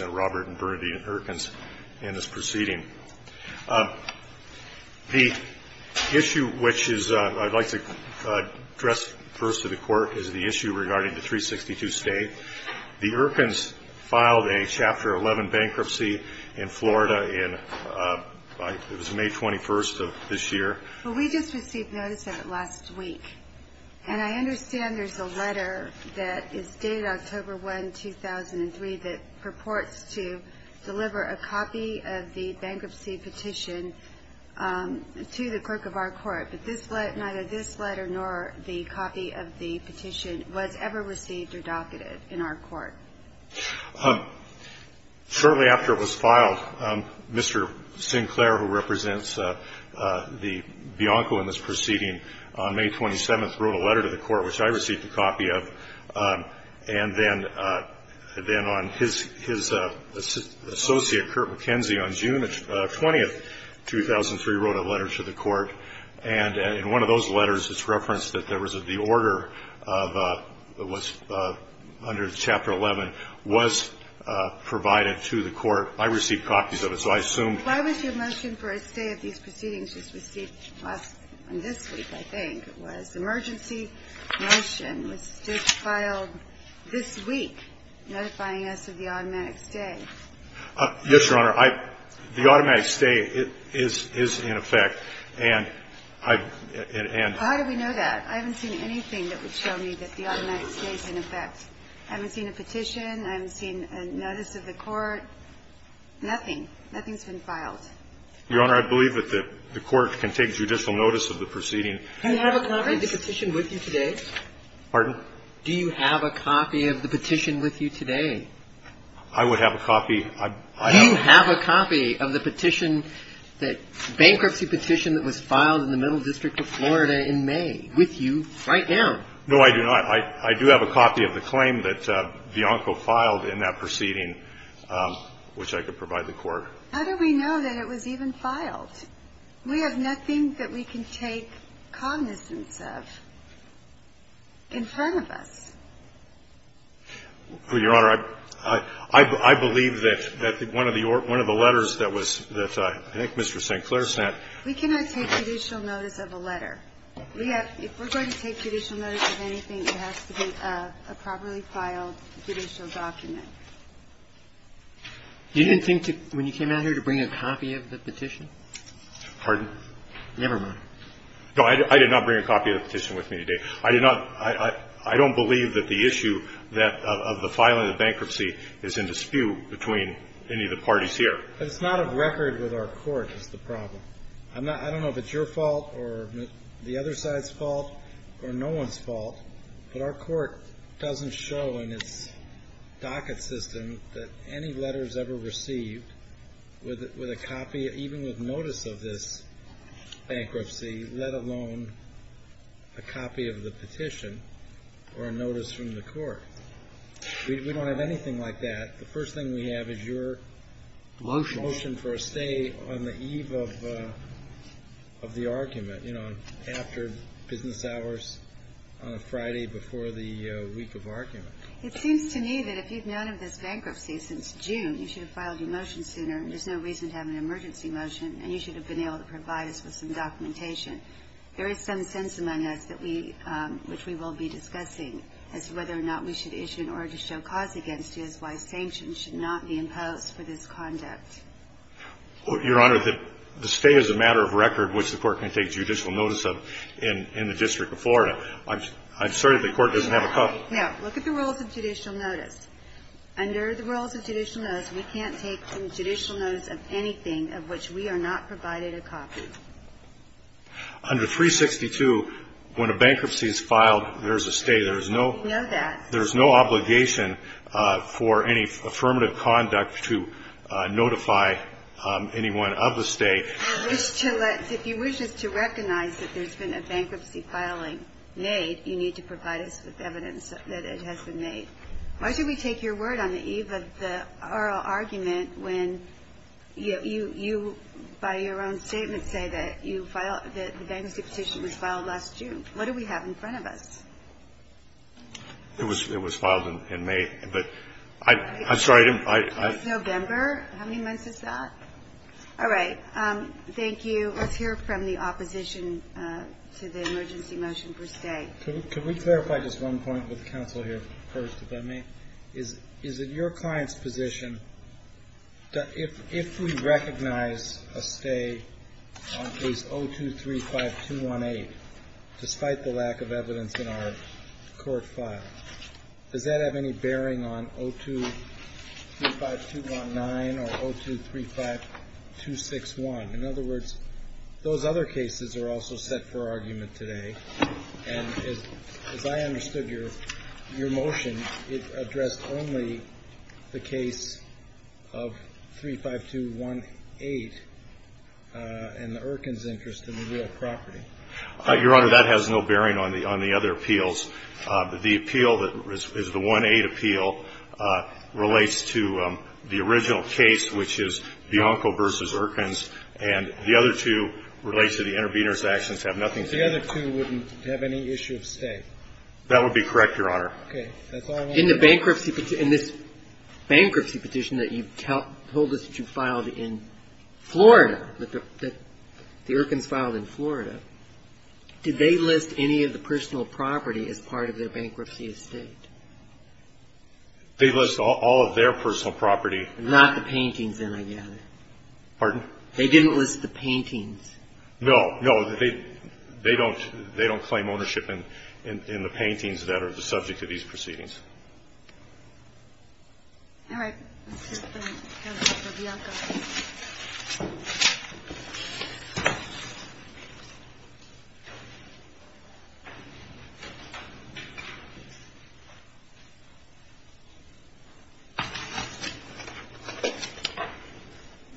Robert and Bernadine Erkins in this proceeding. The issue which I'd like to address first to the court is the issue regarding the 362 state. The Erkins filed a Chapter 11 bankruptcy in Florida. It was May 21st of this year. Well, we just received notice of it last week, and I understand there's a letter that is in the courts to deliver a copy of the bankruptcy petition to the clerk of our court. But this letter, neither this letter nor the copy of the petition was ever received or docketed in our court. Certainly after it was filed, Mr. Sinclair, who represents the Bianco in this proceeding, on May 27th wrote a letter to the court, which I received a copy of, and then on his associate, Curt McKenzie, on June 20th, 2003, wrote a letter to the court, and in one of those letters it's referenced that there was a deorder of what's under Chapter 11 was provided to the court. I received copies of it, so I assume the court received it, I think. It was emergency motion. It was just filed this week, notifying us of the automatic stay. Yes, Your Honor. I – the automatic stay is in effect, and I – and – How do we know that? I haven't seen anything that would show me that the automatic stay is in effect. I haven't seen a petition. I haven't seen a notice of the court. Nothing. Nothing's been filed. Your Honor, I believe that the court can take judicial notice of the proceeding. Do you have a copy of the petition with you today? Pardon? Do you have a copy of the petition with you today? I would have a copy. Do you have a copy of the petition, the bankruptcy petition that was filed in the Middle District of Florida in May with you right now? No, I do not. I do have a copy of the claim that Bianco filed in that proceeding, which I could provide the court. How do we know that it was even filed? We have nothing that we can take cognizance of in front of us. Well, Your Honor, I believe that one of the letters that was – that I think Mr. St. Clair sent – We cannot take judicial notice of a letter. We have – if we're going to take judicial notice of anything, it has to be a properly filed judicial document. You didn't think when you came out here to bring a copy of the petition? Pardon? Never mind. No, I did not bring a copy of the petition with me today. I did not – I don't believe that the issue that – of the filing of bankruptcy is in dispute between any of the parties here. But it's not of record with our court is the problem. I'm not – I don't know if it's your fault or the other side's fault or no one's fault, but our court doesn't show in its docket system that any letters ever received with a copy, even with notice of this bankruptcy, let alone a copy of the petition or a notice from the court. We don't have anything like that. The first thing we have is your motion for a stay on the eve of the argument, you know, after business hours on a Friday before the week of argument. It seems to me that if you've known of this bankruptcy since June, you should have filed your motion sooner, and there's no reason to have an emergency motion, and you should have been able to provide us with some documentation. There is some sense among us that we – which we will be discussing as to whether or not we should issue an order to show cause against you as to why sanctions should not be imposed for this conduct. Your Honor, the stay is a matter of record, which the court can take judicial notice of in the District of Florida. I'm sorry that the Court doesn't have a copy. No. Look at the rules of judicial notice. Under the rules of judicial notice, we can't take judicial notice of anything of which we are not provided a copy. Under 362, when a bankruptcy is filed, there is a stay. We know that. There is no obligation for any affirmative conduct to notify anyone of the stay. If you wish us to recognize that there's been a bankruptcy filing made, you need to provide us with evidence that it has been made. Why should we take your word on the eve of the oral argument when you, by your own statement, say that the bankruptcy petition was filed last June? What do we have in front of us? It was filed in May, but I'm sorry. It was November. How many months is that? All right. Thank you. Let's hear from the opposition to the emergency motion for stay. Could we clarify just one point with counsel here first, if I may? Is it your client's position that if we recognize a stay on case 0235218, despite the lack of evidence in our court file, does that have any bearing on 0235219 or 0235261? In other words, those other cases are also set for argument today. And as I understood your motion, it addressed only the case of 35218 and the Erkin's interest in the real property. Your Honor, that has no bearing on the other appeals. The appeal that is the 18 appeal relates to the original case, which is Bianco v. Erkin's, and the other two relates to the intervener's actions have nothing to do with it. The other two wouldn't have any issue of stay. That would be correct, Your Honor. Okay. That's all I wanted to know. In the bankruptcy petition, in this bankruptcy petition that you told us that you filed in Florida, that the Erkins filed in Florida, did they list any of the personal property as part of their bankruptcy estate? They list all of their personal property. Not the paintings, then, I gather. Pardon? They didn't list the paintings. No, no. They don't claim ownership in the paintings that are the subject of these proceedings. All right. Let's go to the counsel for Bianco.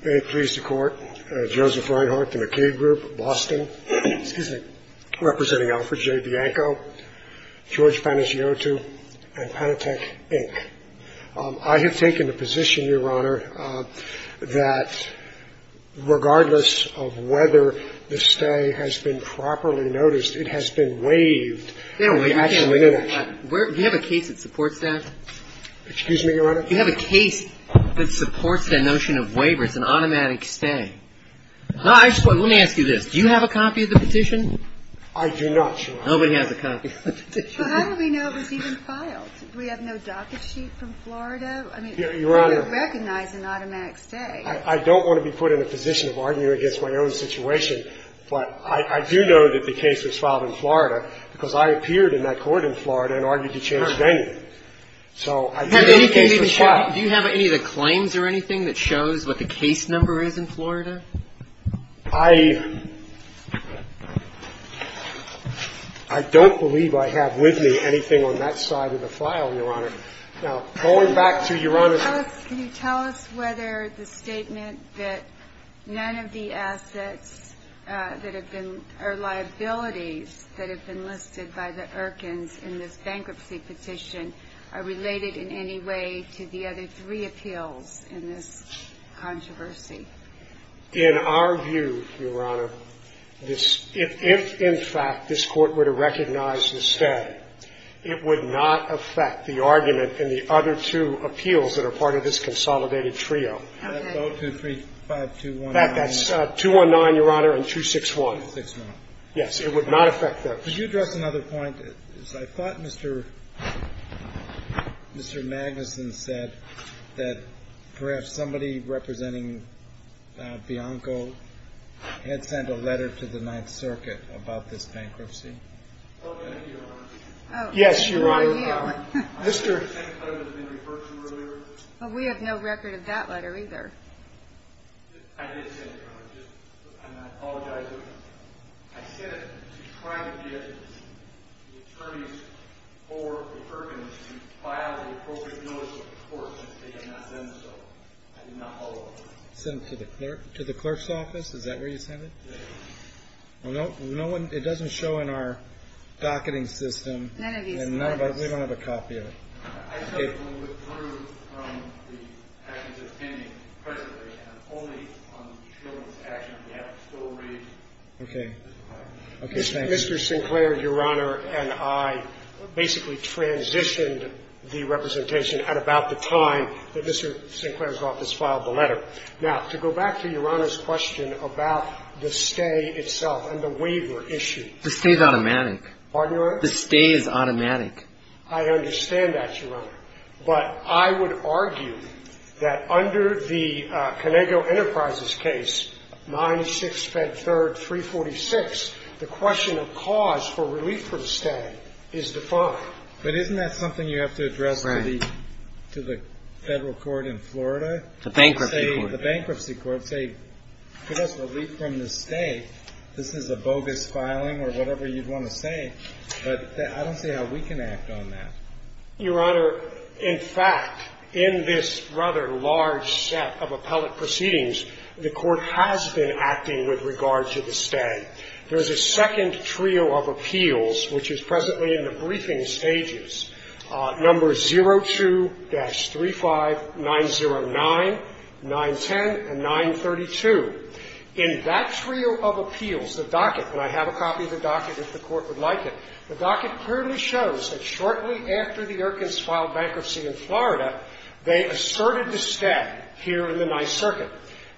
May it please the Court, Joseph Reinhart, the McKay Group, Boston. Excuse me. Your Honor, I have taken the position, representing Alfred J. Bianco, George Panagiotou, and Panatek, Inc., I have taken the position, Your Honor, that regardless of whether the stay has been properly noticed, it has been waived. No, we can't waive that. Do you have a case that supports that? Excuse me, Your Honor? Do you have a case that supports the notion of waivers and automatic stay? Let me ask you this. Do you have a copy of the petition? I do not, Your Honor. Nobody has a copy of the petition. Well, how do we know if it's even filed? Do we have no docket sheet from Florida? I mean, do we recognize an automatic stay? I don't want to be put in a position of arguing against my own situation, but I do know that the case was filed in Florida because I appeared in that court in Florida and argued to change venue. So I do know the case was filed. Do you have any of the claims or anything that shows what the case number is in Florida? I don't believe I have with me anything on that side of the file, Your Honor. Now, going back to your Honor's question. Can you tell us whether the statement that none of the assets that have been or liabilities that have been listed by the Erkins in this bankruptcy petition are related in any way to the other three appeals in this controversy? In our view, Your Honor, if in fact this Court were to recognize the stay, it would not affect the argument in the other two appeals that are part of this consolidated trio. Okay. 0, 2, 3, 5, 2, 1, 9. That's 2, 1, 9, Your Honor, and 2, 6, 1. 6, 9. Yes. It would not affect those. Could you address another point? I thought Mr. Magnuson said that perhaps somebody representing Bianco had sent a letter to the Ninth Circuit about this bankruptcy. Oh, thank you, Your Honor. Oh. Yes, Your Honor. Oh, you. Mr. We have no record of that letter either. I did send it, Your Honor. I apologize. I sent it to try to get the attorneys for the Erkins to file the appropriate notice of the court. They have not done so. I did not follow it. Sent it to the clerk's office? Is that where you sent it? Yes. Well, no one, it doesn't show in our docketing system. None of these letters. And none of us, we don't have a copy of it. Mr. Sinclair, Your Honor, and I basically transitioned the representation at about the time that Mr. Sinclair's office filed the letter. Now, to go back to Your Honor's question about the stay itself and the waiver issue. The stay is automatic. Pardon, Your Honor? I understand that, Your Honor. But I would argue that under the Conego Enterprises case, 9-6-3-346, the question of cause for relief from stay is defined. But isn't that something you have to address to the federal court in Florida? The bankruptcy court. The bankruptcy court. Say, give us relief from the stay. This is a bogus filing or whatever you'd want to say. But I don't see how we can act on that. Your Honor, in fact, in this rather large set of appellate proceedings, the Court has been acting with regard to the stay. There is a second trio of appeals, which is presently in the briefing stages, numbers 02-35909, 910, and 932. In that trio of appeals, the docket, and I have a copy of the docket if the Court would like it. The docket clearly shows that shortly after the Erkins filed bankruptcy in Florida, they asserted the stay here in the Ninth Circuit.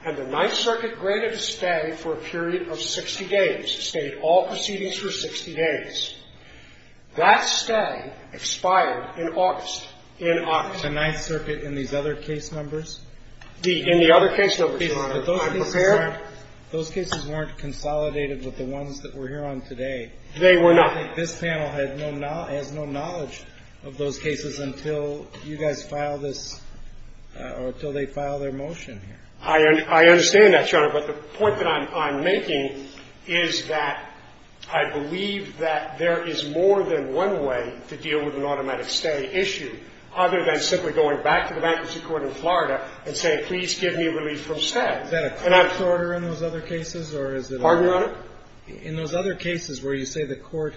And the Ninth Circuit granted a stay for a period of 60 days. It stayed all proceedings for 60 days. That stay expired in August. In August. The Ninth Circuit in these other case numbers? In the other case numbers, Your Honor. I'm prepared. Those cases weren't consolidated with the ones that we're here on today. They were not. I think this panel has no knowledge of those cases until you guys file this or until they file their motion here. I understand that, Your Honor. But the point that I'm making is that I believe that there is more than one way to deal with an automatic stay issue other than simply going back to the Bankruptcy Court in Florida and saying, please give me relief from stay. Is that a court order in those other cases, or is it other? Pardon, Your Honor? In those other cases where you say the Court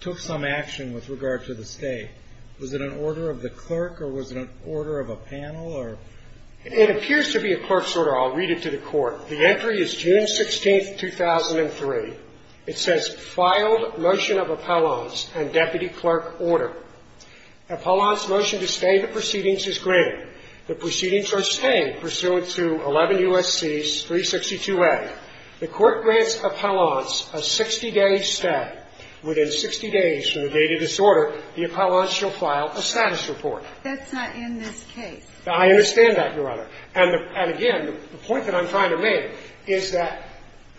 took some action with regard to the stay, was it an order of the clerk or was it an order of a panel or? It appears to be a clerk's order. I'll read it to the Court. The entry is June 16th, 2003. It says, filed motion of appellants and deputy clerk order. Appellant's motion to stay the proceedings is granted. The proceedings are stayed pursuant to 11 U.S.C. 362A. The Court grants appellants a 60-day stay. Within 60 days from the date of disorder, the appellants shall file a status report. That's not in this case. I understand that, Your Honor. And again, the point that I'm trying to make is that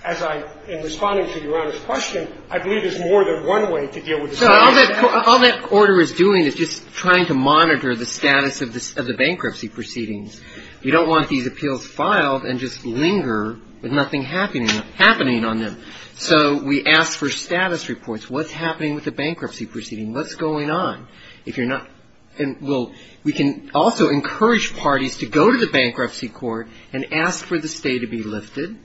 as I'm responding to Your Honor's question, I believe there's more than one way to deal with this. All that order is doing is just trying to monitor the status of the bankruptcy proceedings. We don't want these appeals filed and just linger with nothing happening on them. So we ask for status reports. What's happening with the bankruptcy proceeding? What's going on? If you're not ñ well, we can also encourage parties to go to the bankruptcy court and ask for the stay to be lifted,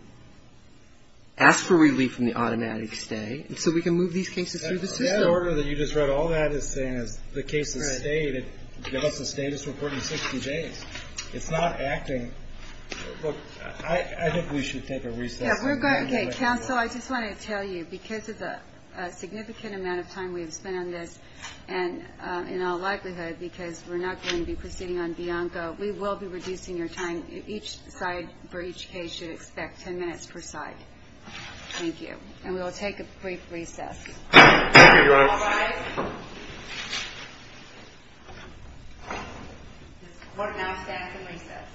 ask for relief from the automatic stay, and so we can move these cases through the system. That order that you just read, all that is saying is the case is stayed. It gives us a status report in 60 days. It's not acting ñ look, I think we should take a recess. Yeah, we're going ñ okay, counsel, I just wanted to tell you, because of the significant amount of time we've spent on this, and in all likelihood because we're not going to be proceeding on Bianco, we will be reducing your time. Each side for each case should expect 10 minutes per side. Thank you. And we will take a brief recess. Thank you, Your Honor. All rise. This court now stands in recess.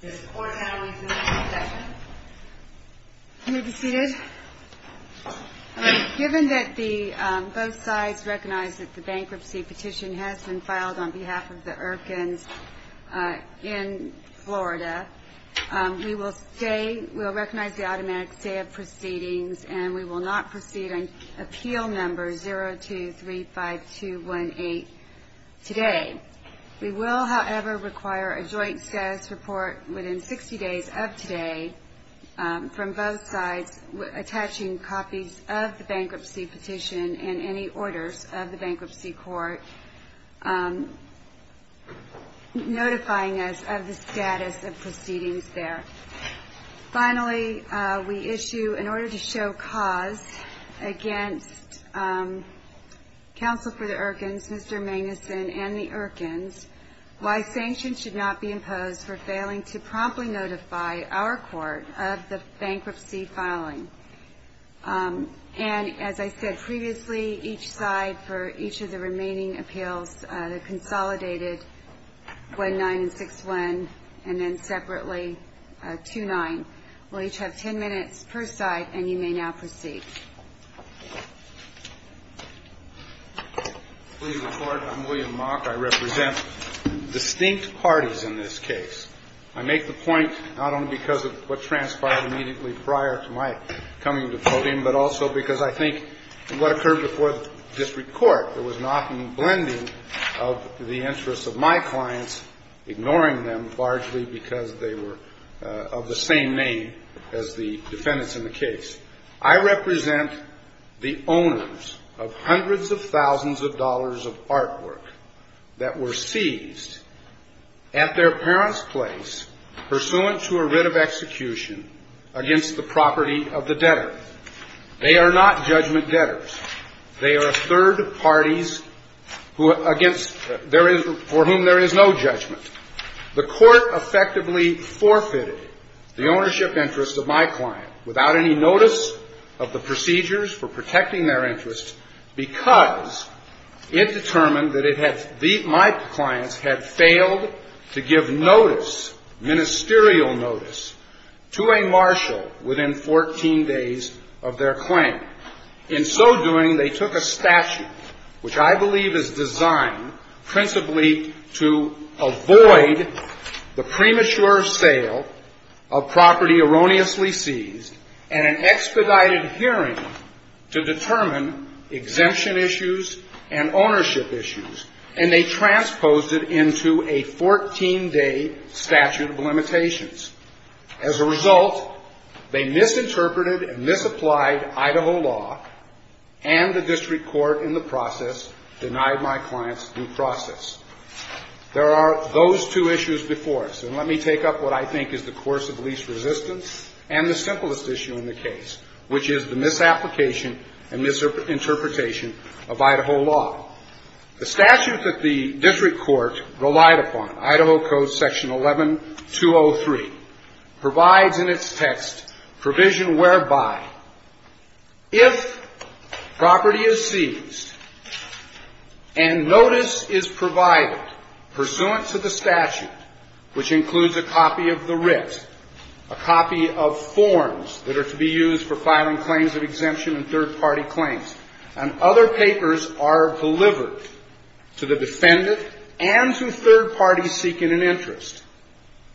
This court now is in recess. You may be seated. Given that both sides recognize that the bankruptcy petition has been filed on behalf of the Irkins in Florida, we will stay ñ we will recognize the automatic stay of proceedings, and we will not proceed on appeal number 0235218 today. We will, however, require a joint status report within 60 days of today from both sides attaching copies of the bankruptcy petition and any orders of the bankruptcy court, notifying us of the status of proceedings there. Finally, we issue, in order to show cause against Counsel for the Irkins, Mr. Magnuson, and the Irkins, why sanctions should not be imposed for failing to promptly notify our court of the bankruptcy filing. And as I said previously, each side for each of the remaining appeals, the consolidated 1-9 and 6-1, and then separately 2-9, will each have 10 minutes per side, and you may now proceed. Please report. I'm William Mock. I represent distinct parties in this case. I make the point not only because of what transpired immediately prior to my coming to the podium, but also because I think what occurred before the district court, there was an often blending of the interests of my clients, ignoring them largely because they were of the same name as the defendants in the case. I represent the owners of hundreds of thousands of dollars of artwork that were seized at their parents' place pursuant to a writ of execution against the property of the debtor. They are not judgment debtors. They are third parties who against there is for whom there is no judgment. The court effectively forfeited the ownership interests of my client without any notice of the procedures for protecting their interests because it determined that my clients had failed to give notice, ministerial notice, to a marshal within 14 days of their claim. In so doing, they took a statute, which I believe is designed principally to avoid the premature sale of property erroneously seized and an expedited hearing to determine exemption issues and ownership issues, and they transposed it into a 14-day statute of limitations. As a result, they misinterpreted and misapplied Idaho law, and the district court in the process denied my clients due process. There are those two issues before us. And let me take up what I think is the course of least resistance and the simplest issue in the case, which is the misapplication and misinterpretation of Idaho law. The statute that the district court relied upon, Idaho Code Section 11-203, provides in its text provision whereby if property is seized and notice is provided pursuant to the statute, which includes a copy of the writ, a copy of forms that are to be used for filing claims of exemption and third-party claims, and other papers are delivered to the defendant and to third parties seeking an interest,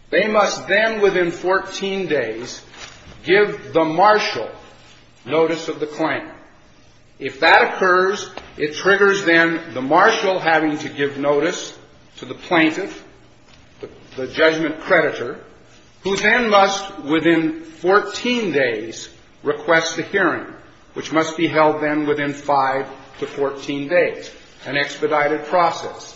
they must then within 14 days give the marshal notice of the claim. If that occurs, it triggers then the marshal having to give notice to the plaintiff, the judgment creditor, who then must within 14 days request a hearing, which must be held then within 5 to 14 days, an expedited process.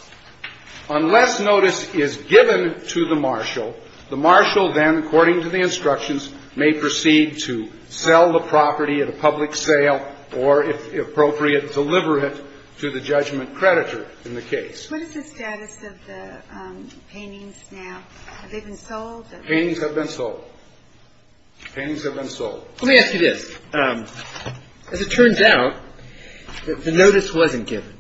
Unless notice is given to the marshal, the marshal then, according to the instructions, may proceed to sell the property at a public sale or, if appropriate, deliver it to the judgment creditor in the case. What is the status of the paintings now? Have they been sold? The paintings have been sold. The paintings have been sold. Let me ask you this. As it turns out, the notice wasn't given.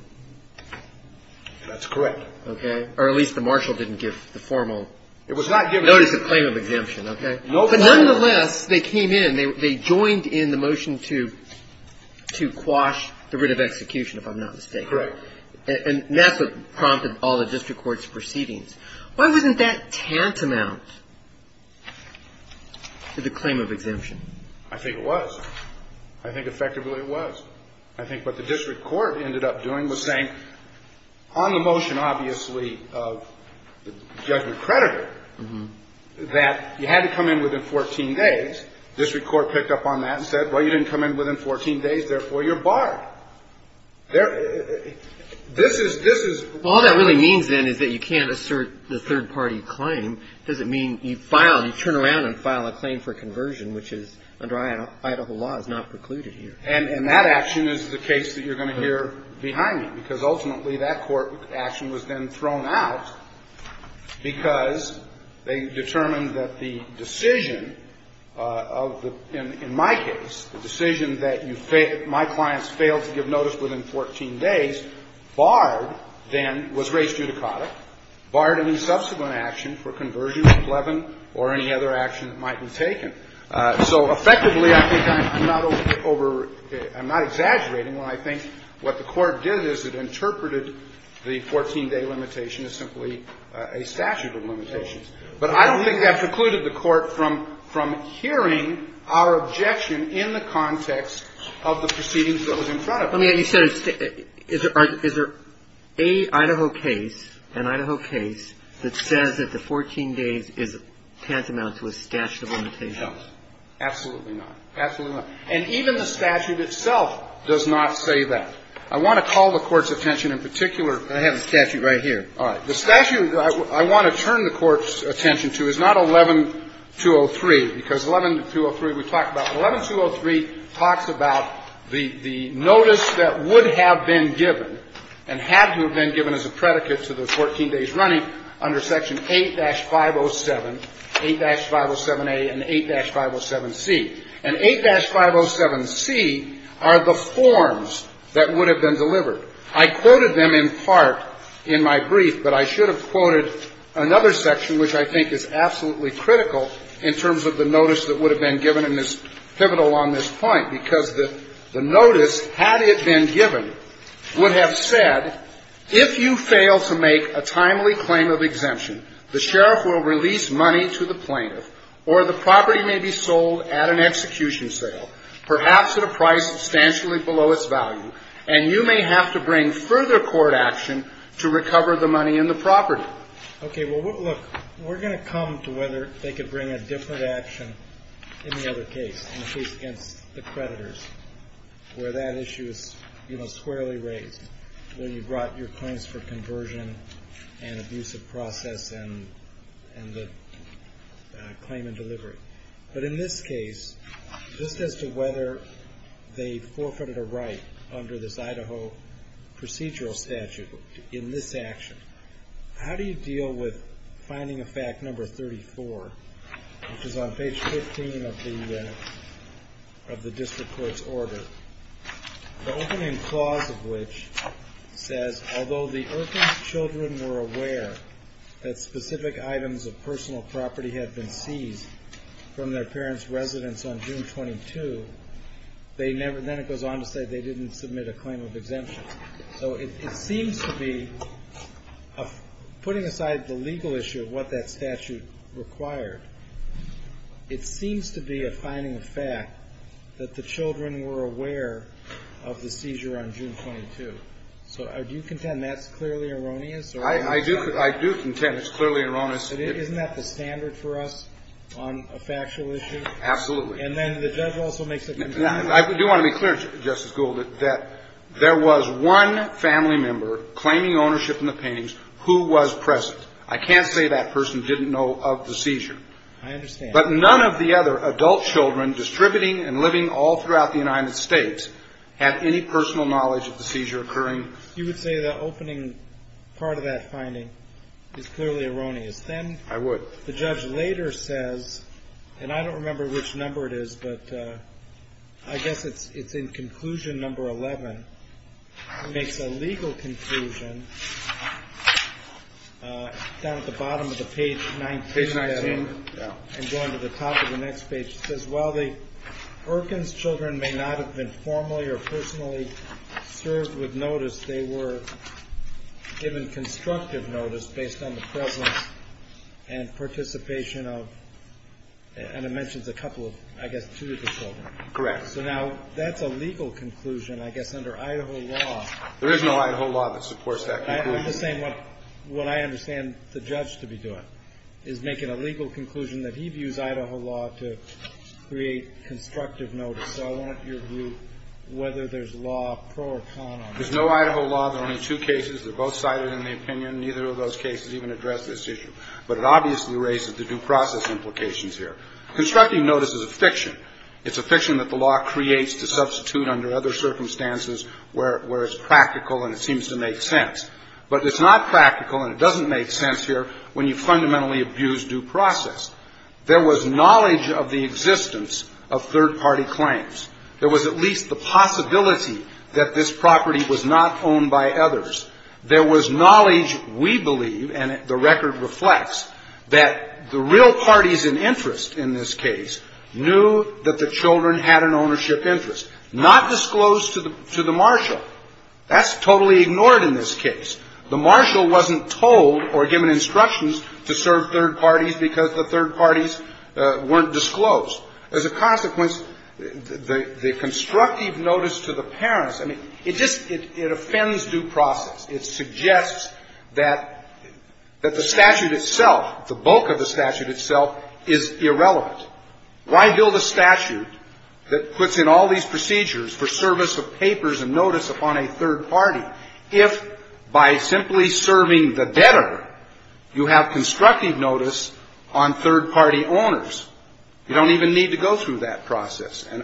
That's correct. Okay. Or at least the marshal didn't give the formal notice of claim of exemption, okay? But nonetheless, they came in. They joined in the motion to quash the writ of execution, if I'm not mistaken. Correct. And that's what prompted all the district court's proceedings. Why wasn't that tantamount to the claim of exemption? I think it was. I think effectively it was. I think what the district court ended up doing was saying, on the motion, obviously, of judgment creditor, that you had to come in within 14 days. District court picked up on that and said, well, you didn't come in within 14 days, therefore you're barred. This is what you're doing. All that really means, then, is that you can't assert the third-party claim. Does it mean you file, you turn around and file a claim for conversion, which is under Idaho law is not precluded here. And that action is the case that you're going to hear behind me, because ultimately that court action was then thrown out because they determined that the decision of the – in my case, the decision that you fail – my clients failed to give notice within 14 days, barred, then, was race judicata, barred any subsequent action for conversion with Levin or any other action that might be taken. So effectively, I think I'm not over – I'm not exaggerating when I think what the court did is it interpreted the 14-day limitation as simply a statute of limitations. But I don't think that precluded the court from hearing our objection in the context of the proceedings that was in front of us. Let me ask you a question. Is there a Idaho case, an Idaho case, that says that the 14 days is tantamount to a statute of limitations? Absolutely not. Absolutely not. And even the statute itself does not say that. I want to call the Court's attention in particular. I have the statute right here. All right. The statute I want to turn the Court's attention to is not 11-203, because 11-203 we talked about. 11-203 talks about the notice that would have been given and had to have been given as a predicate to the 14 days running under Section 8-507, 8-507A and 8-507C. And 8-507C are the forms that would have been delivered. I quoted them in part in my brief, but I should have quoted another section, which I think is absolutely critical in terms of the notice that would have been given and is pivotal on this point, because the notice, had it been given, would have said that if you fail to make a timely claim of exemption, the sheriff will release money to the plaintiff, or the property may be sold at an execution sale, perhaps at a price substantially below its value, and you may have to bring further court action to recover the money in the property. Okay. Well, look, we're going to come to whether they could bring a different action in the other case, in the case against the creditors, where that issue is, you know, squarely raised when you brought your claims for conversion and abusive process and the claimant delivery. But in this case, just as to whether they forfeited a right under this Idaho procedural statute in this action, how do you deal with finding a fact number 34, which is on page 15 of the district court's order? The opening clause of which says, although the Irving's children were aware that specific items of personal property had been seized from their parents' residence on June 22, then it goes on to say they didn't submit a claim of exemption. So it seems to be, putting aside the legal issue of what that statute required, it seems to be a finding of fact that the children were aware of the seizure on June 22. So do you contend that's clearly erroneous? I do contend it's clearly erroneous. Isn't that the standard for us on a factual issue? Absolutely. And then the judge also makes it clear. I do want to be clear, Justice Gould, that there was one family member claiming ownership in the paintings who was present. I can't say that person didn't know of the seizure. I understand. But none of the other adult children distributing and living all throughout the United States had any personal knowledge of the seizure occurring. You would say the opening part of that finding is clearly erroneous. I would. Then the judge later says, and I don't remember which number it is, but I guess it's in conclusion number 11. It makes a legal conclusion down at the bottom of the page 19. Page 19, yeah. And going to the top of the next page, it says, while the Perkins children may not have been formally or personally served with notice, they were given constructive notice based on the presence and participation of, and it mentions a couple of, I guess two of the children. Correct. So now that's a legal conclusion, I guess, under Idaho law. There is no Idaho law that supports that conclusion. I'm just saying what I understand the judge to be doing is making a legal conclusion that he views Idaho law to create constructive notice. So I want your view whether there's law pro or con on this. There's no Idaho law. There are only two cases. They're both cited in the opinion. Neither of those cases even address this issue. But it obviously raises the due process implications here. Constructive notice is a fiction. It's a fiction that the law creates to substitute under other circumstances where it's practical and it seems to make sense. But it's not practical and it doesn't make sense here when you fundamentally abuse due process. There was knowledge of the existence of third-party claims. There was at least the possibility that this property was not owned by others. There was knowledge, we believe, and the record reflects, that the real parties in interest in this case knew that the children had an ownership interest, not disclosed to the marshal. That's totally ignored in this case. The marshal wasn't told or given instructions to serve third parties because the third parties weren't disclosed. As a consequence, the constructive notice to the parents, I mean, it just, it offends due process. It suggests that the statute itself, the bulk of the statute itself, is irrelevant. Why build a statute that puts in all these procedures for service of papers and notice upon a third party if, by simply serving the debtor, you have constructive notice on third-party owners? You don't even need to go through that process. And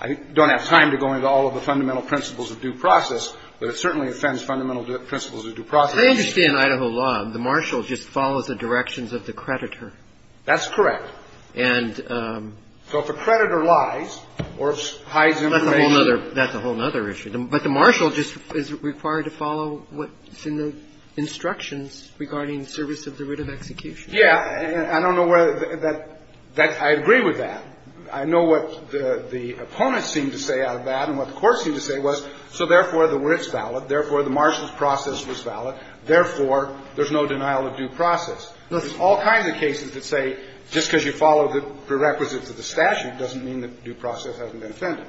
I don't have time to go into all of the fundamental principles of due process, but it certainly offends fundamental principles of due process. I understand Idaho law. The marshal just follows the directions of the creditor. That's correct. And so if a creditor lies or hides information. That's a whole other issue. But the marshal just is required to follow what's in the instructions regarding service of the writ of execution. Yeah. And I don't know whether that, I agree with that. I know what the opponents seem to say out of that and what the courts seem to say was, so therefore, the writ's valid. Therefore, the marshal's process was valid. Therefore, there's no denial of due process. There's all kinds of cases that say just because you follow the prerequisites of the statute doesn't mean that due process hasn't been offended.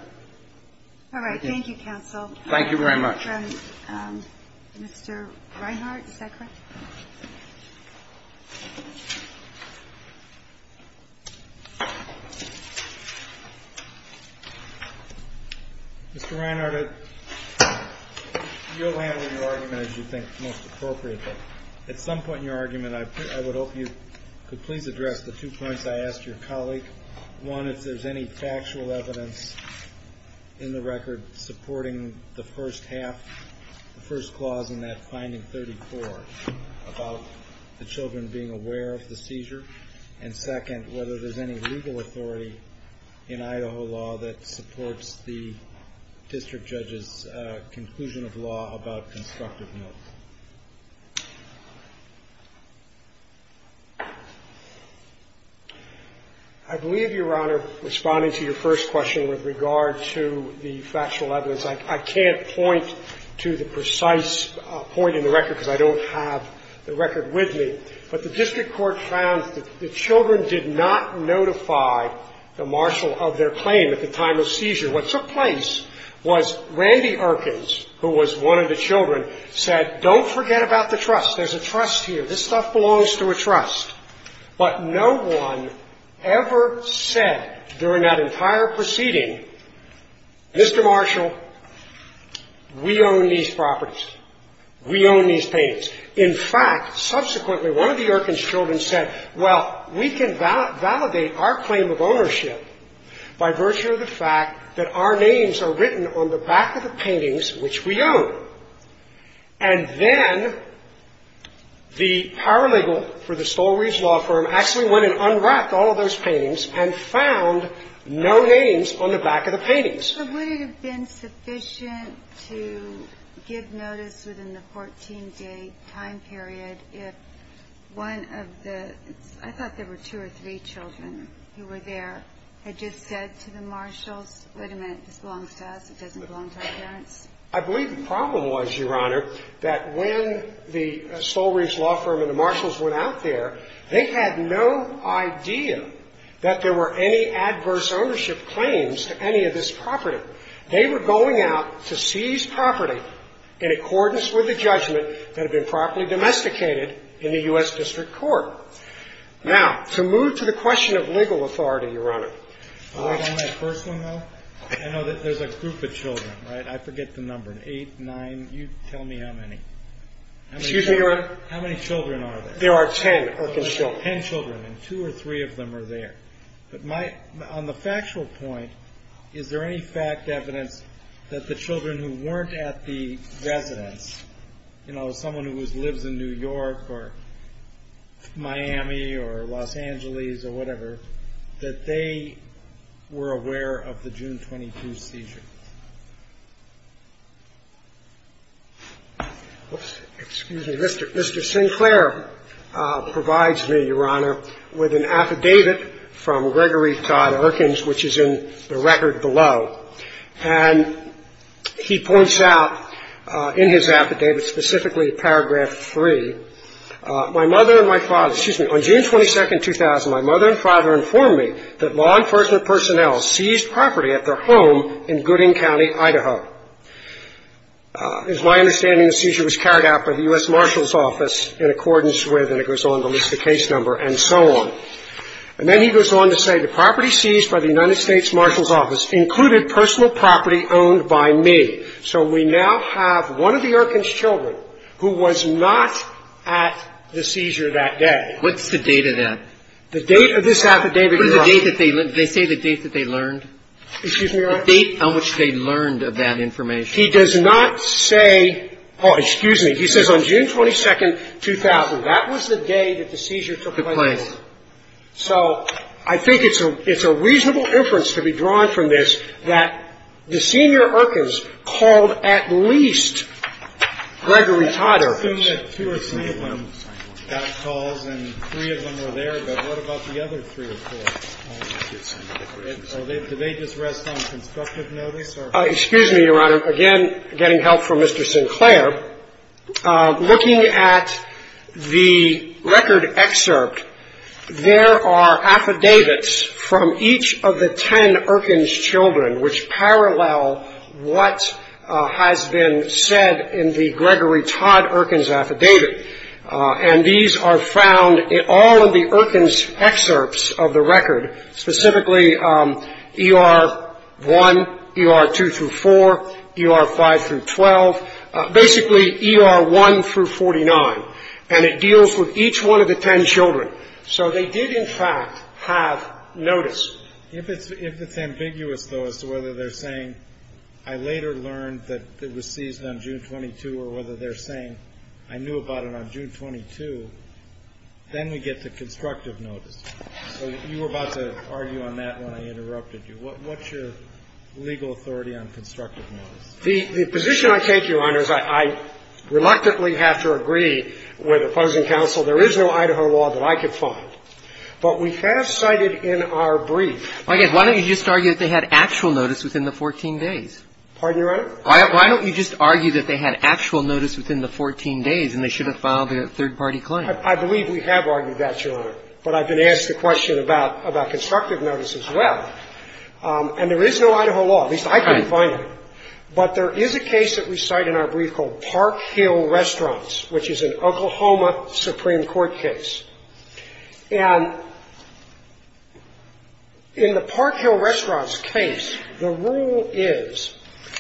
All right. Thank you, counsel. Thank you very much. And Mr. Reinhart, is that correct? Mr. Reinhart, you'll handle your argument as you think is most appropriate. But at some point in your argument, I would hope you could please address the two points I asked your colleague. One, if there's any factual evidence in the record supporting the first half, the first clause in that finding 34 about the children being aware of the seizure. And second, whether there's any legal authority in Idaho law that supports the district judge's conclusion of law about constructive notes. I believe, Your Honor, responding to your first question with regard to the factual evidence, I can't point to the precise point in the record because I don't have the record with me. But the district court found that the children did not notify the marshal of their claim at the time of seizure. What took place was Randy Erkins, who was one of the children, said, don't forget about the trust. There's a trust here. This stuff belongs to a trust. But no one ever said during that entire proceeding, Mr. Marshall, we own these properties. We own these paintings. In fact, subsequently, one of the Erkins children said, well, we can validate our claim of ownership by virtue of the fact that our names are written on the back of the paintings which we own. And then the paralegal for the Stowell Ridge law firm actually went and unwrapped all of those paintings and found no names on the back of the paintings. But would it have been sufficient to give notice within the 14-day time period if one of the – I thought there were two or three children who were there – had just said to the marshals, wait a minute, this belongs to us, it doesn't belong to our parents? I believe the problem was, Your Honor, that when the Stowell Ridge law firm and the marshals went out there, they had no idea that there were any adverse ownership claims to any of this property. They were going out to seize property in accordance with the judgment that had been properly domesticated in the U.S. District Court. Wait on that first one, though. I know that there's a group of children, right? I forget the number. Eight, nine, you tell me how many. Excuse me, Your Honor. How many children are there? There are ten. Ten children, and two or three of them are there. But on the factual point, is there any fact, evidence that the children who weren't at the residence, you know, someone who lives in New York or Miami or Los Angeles or whatever, that they were aware of the June 22 seizure? Oops, excuse me. Mr. Sinclair provides me, Your Honor, with an affidavit from Gregory Todd Erkins, which is in the record below. And he points out in his affidavit, specifically paragraph 3, My mother and my father, excuse me. On June 22, 2000, my mother and father informed me that law enforcement personnel seized property at their home in Gooding County, Idaho. It is my understanding the seizure was carried out by the U.S. Marshal's Office in accordance with, and it goes on to list the case number and so on. And then he goes on to say, The property seized by the United States Marshal's Office included personal property owned by me. So we now have one of the Erkins children who was not at the seizure that day. What's the date of that? The date of this affidavit, Your Honor. They say the date that they learned. Excuse me, Your Honor. The date on which they learned of that information. He does not say, oh, excuse me, he says on June 22, 2000. That was the day that the seizure took place. So I think it's a reasonable inference to be drawn from this that the senior Erkins called at least Gregory Todd Erkins. I assume that two or three of them got calls and three of them were there. But what about the other three or four? Did they just rest on constructive notice? Excuse me, Your Honor. Again, getting help from Mr. Sinclair. Looking at the record excerpt, there are affidavits from each of the ten Erkins children which parallel what has been said in the Gregory Todd Erkins affidavit. And these are found in all of the Erkins excerpts of the record, specifically ER1, ER2 through 4, ER5 through 12, basically ER1 through 49. And it deals with each one of the ten children. So they did, in fact, have notice. If it's ambiguous, though, as to whether they're saying I later learned that it was seized on June 22 or whether they're saying I knew about it on June 22, then we get to constructive notice. So you were about to argue on that when I interrupted you. What's your legal authority on constructive notice? The position I take, Your Honor, is I reluctantly have to agree with opposing counsel. There is no Idaho law that I could find. But we have cited in our brief. Why don't you just argue that they had actual notice within the 14 days? Pardon, Your Honor? Why don't you just argue that they had actual notice within the 14 days and they should have filed a third-party claim? I believe we have argued that, Your Honor. But I've been asked the question about constructive notice as well. And there is no Idaho law. At least I couldn't find it. But there is a case that we cite in our brief called Park Hill Restaurants, which is an Oklahoma Supreme Court case. And in the Park Hill Restaurants case, the rule is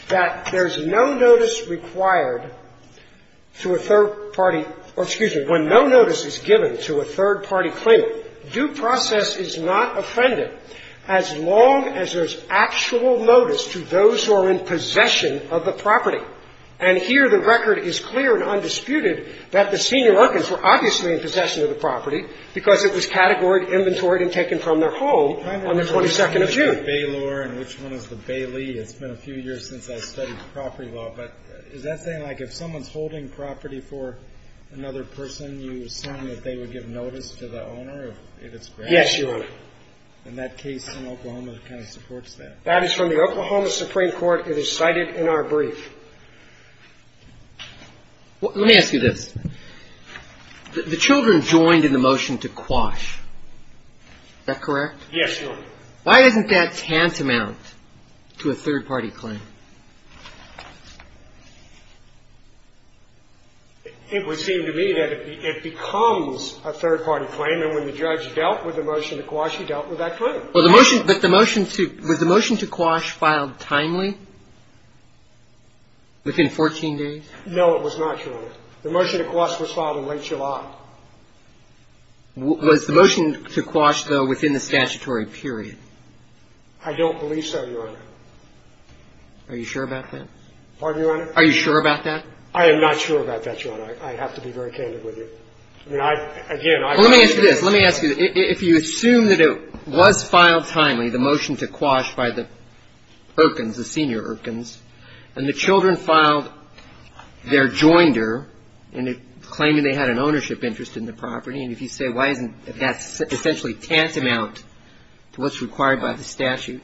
that there's no notice required to a third-party or, excuse me, when no notice is given to a third-party claim, due process is not offended as long as there's actual notice to those who are in possession of the property. And here the record is clear and undisputed that the senior workers were obviously in possession of the property because it was categorized, inventoried, and taken from their home on the 22nd of June. I know there's a case with the Baylor and which one is the Bailey. It's been a few years since I studied property law. But is that saying like if someone's holding property for another person, you assume that they would give notice to the owner if it's granted? Yes, Your Honor. And that case in Oklahoma kind of supports that. That is from the Oklahoma Supreme Court. It is cited in our brief. Let me ask you this. The children joined in the motion to quash. Is that correct? Yes, Your Honor. Why isn't that tantamount to a third-party claim? It would seem to me that it becomes a third-party claim. And when the judge dealt with the motion to quash, he dealt with that claim. Well, the motion to – was the motion to quash filed timely, within 14 days? No, it was not, Your Honor. The motion to quash was filed in late July. Was the motion to quash, though, within the statutory period? I don't believe so, Your Honor. Are you sure about that? Pardon me, Your Honor? Are you sure about that? I am not sure about that, Your Honor. I have to be very candid with you. I mean, again, I believe it is. Well, let me ask you this. If you assume that it was filed timely, the motion to quash by the Erkins, the senior Erkins, and the children filed their joinder claiming they had an ownership interest in the property, and if you say why isn't that essentially tantamount to what's required by the statute,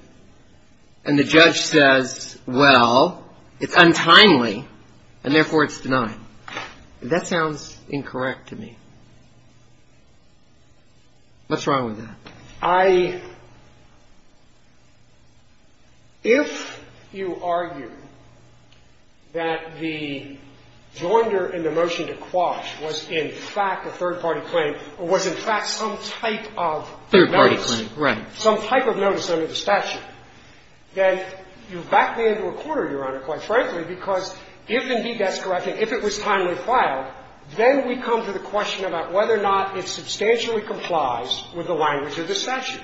and the judge says, well, it's untimely, and therefore it's denied, that sounds incorrect to me. What's wrong with that? I — if you argue that the joinder in the motion to quash was in fact a third-party claim or was in fact some type of notice, some type of notice under the statute, then you've backed me into a corner, Your Honor, quite frankly, because if indeed that's correct and if it was timely filed, then we come to the question about whether or not it substantially complies with the language of the statute.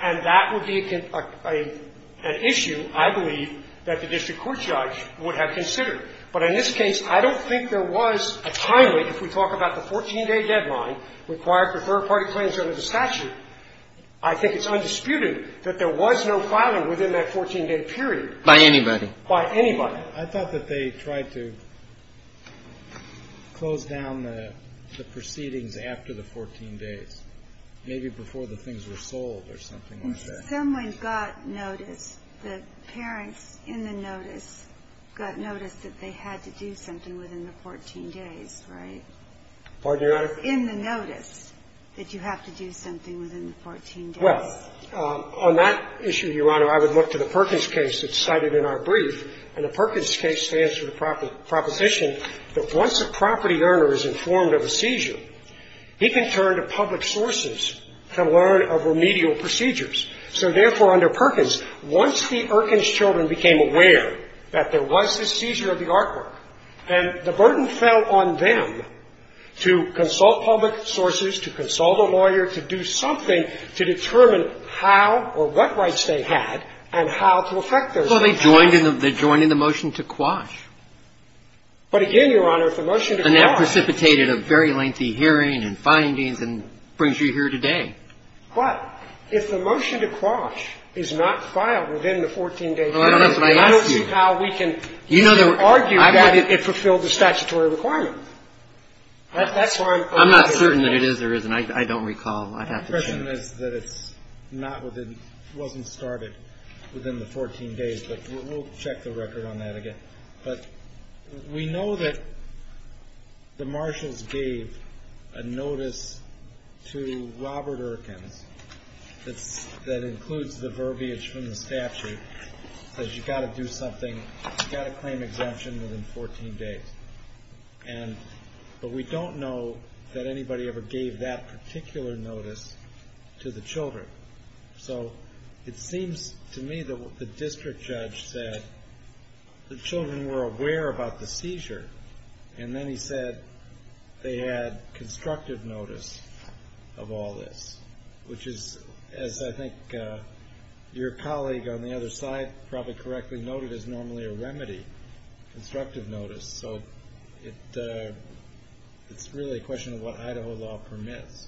And that would be an issue, I believe, that the district court judge would have considered. But in this case, I don't think there was a timely, if we talk about the 14-day deadline required for third-party claims under the statute, I think it's undisputed that there was no filing within that 14-day period. By anybody. By anybody. I thought that they tried to close down the proceedings after the 14 days, maybe before the things were sold or something like that. Someone got notice. The parents in the notice got notice that they had to do something within the 14 days, right? Pardon me, Your Honor? In the notice that you have to do something within the 14 days. Well, on that issue, Your Honor, I would look to the Perkins case that's cited in our brief. And the Perkins case stands for the proposition that once a property earner is informed of a seizure, he can turn to public sources to learn of remedial procedures. So, therefore, under Perkins, once the Erkins children became aware that there was a seizure of the artwork, then the burden fell on them to consult public sources, to consult a lawyer, to do something to determine how or what rights they had and how to effect their seizure. So they joined in the motion to quash. But again, Your Honor, if the motion to quash. And that precipitated a very lengthy hearing and findings and brings you here today. But if the motion to quash is not filed within the 14-day period. Well, I don't know, but I asked you. That's how we can argue that it fulfilled the statutory requirement. That's why I'm. I'm not certain that it is or isn't. I don't recall. I'd have to check. The assumption is that it wasn't started within the 14 days. But we'll check the record on that again. But we know that the marshals gave a notice to Robert Erkins that includes the verbiage from the statute that you've got to do something. You've got to claim exemption within 14 days. But we don't know that anybody ever gave that particular notice to the children. So it seems to me that the district judge said the children were aware about the seizure. And then he said they had constructive notice of all this. Which is, as I think your colleague on the other side probably correctly noted, is normally a remedy. Constructive notice. So it's really a question of what Idaho law permits.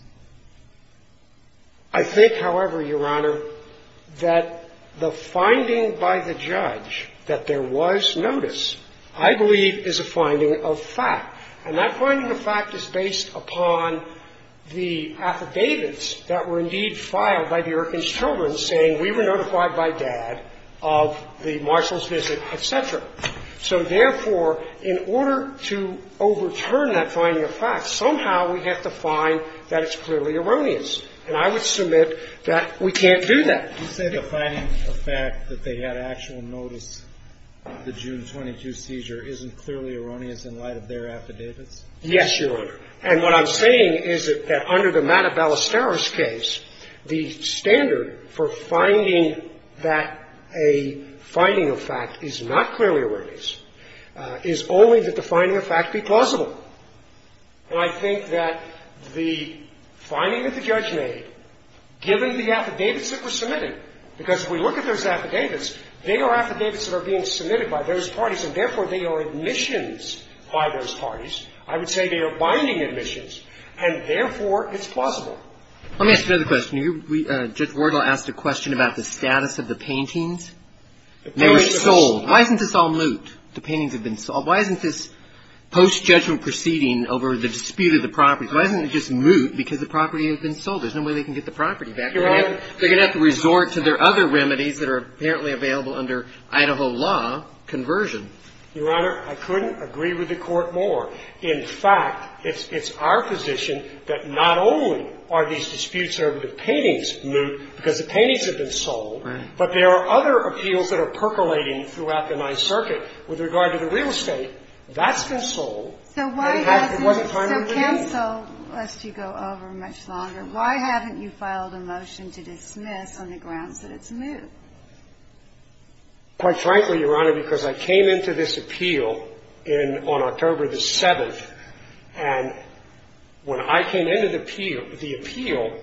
I think, however, your Honor, that the finding by the judge that there was notice, I believe, is a finding of fact. And that finding of fact is based upon the affidavits that were indeed filed by the So, therefore, in order to overturn that finding of fact, somehow we have to find that it's clearly erroneous. And I would submit that we can't do that. Do you say the finding of fact that they had actual notice of the June 22 seizure isn't clearly erroneous in light of their affidavits? Yes, your Honor. And what I'm saying is that under the Mata Ballesteros case, the standard for finding that a finding of fact is not clearly erroneous is only that the finding of fact be plausible. And I think that the finding that the judge made, given the affidavits that were submitted, because if we look at those affidavits, they are affidavits that are being submitted by those parties, and, therefore, they are admissions by those parties. I would say they are binding admissions, and, therefore, it's plausible. Let me ask you another question. Judge Wardle asked a question about the status of the paintings. They were sold. Why isn't this all moot? The paintings have been sold. Why isn't this post-judgment proceeding over the dispute of the properties, why isn't it just moot because the property has been sold? There's no way they can get the property back. They're going to have to resort to their other remedies that are apparently available under Idaho law, conversion. Your Honor, I couldn't agree with the Court more. In fact, it's our position that not only are these disputes over the paintings moot because the paintings have been sold, but there are other appeals that are percolating throughout the Ninth Circuit with regard to the real estate. That's been sold. And it wasn't time to renew it. So why hasn't – so cancel, lest you go over much longer. Why haven't you filed a motion to dismiss on the grounds that it's moot? Quite frankly, Your Honor, because I came into this appeal on October the 7th, and when I came into the appeal,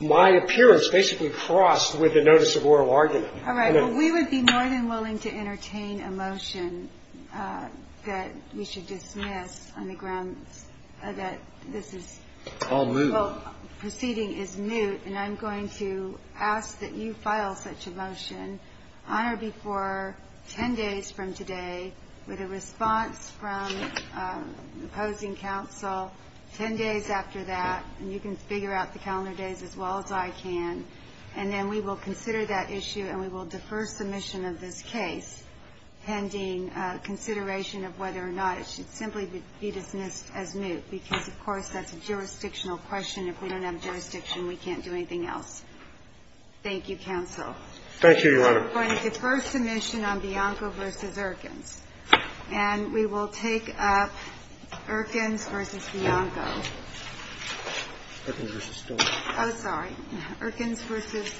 my appearance basically crossed with the notice of oral argument. All right. Well, we would be more than willing to entertain a motion that we should dismiss on the grounds that this is – All moot. Well, proceeding is moot, and I'm going to ask that you file such a motion on or before 10 days from today with a response from the opposing counsel 10 days after that, and you can figure out the calendar days as well as I can, and then we will consider that issue and we will defer submission of this case pending consideration of whether or not it should simply be dismissed as moot, because, of course, that's a jurisdictional question. If we don't have jurisdiction, we can't do anything else. Thank you, counsel. Thank you, Your Honor. We're going to defer submission on Bianco v. Erkins. And we will take up Erkins v. Bianco. Erkins v. Stone. Oh, sorry. Erkins v. Stone. Erkins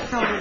v. Stone.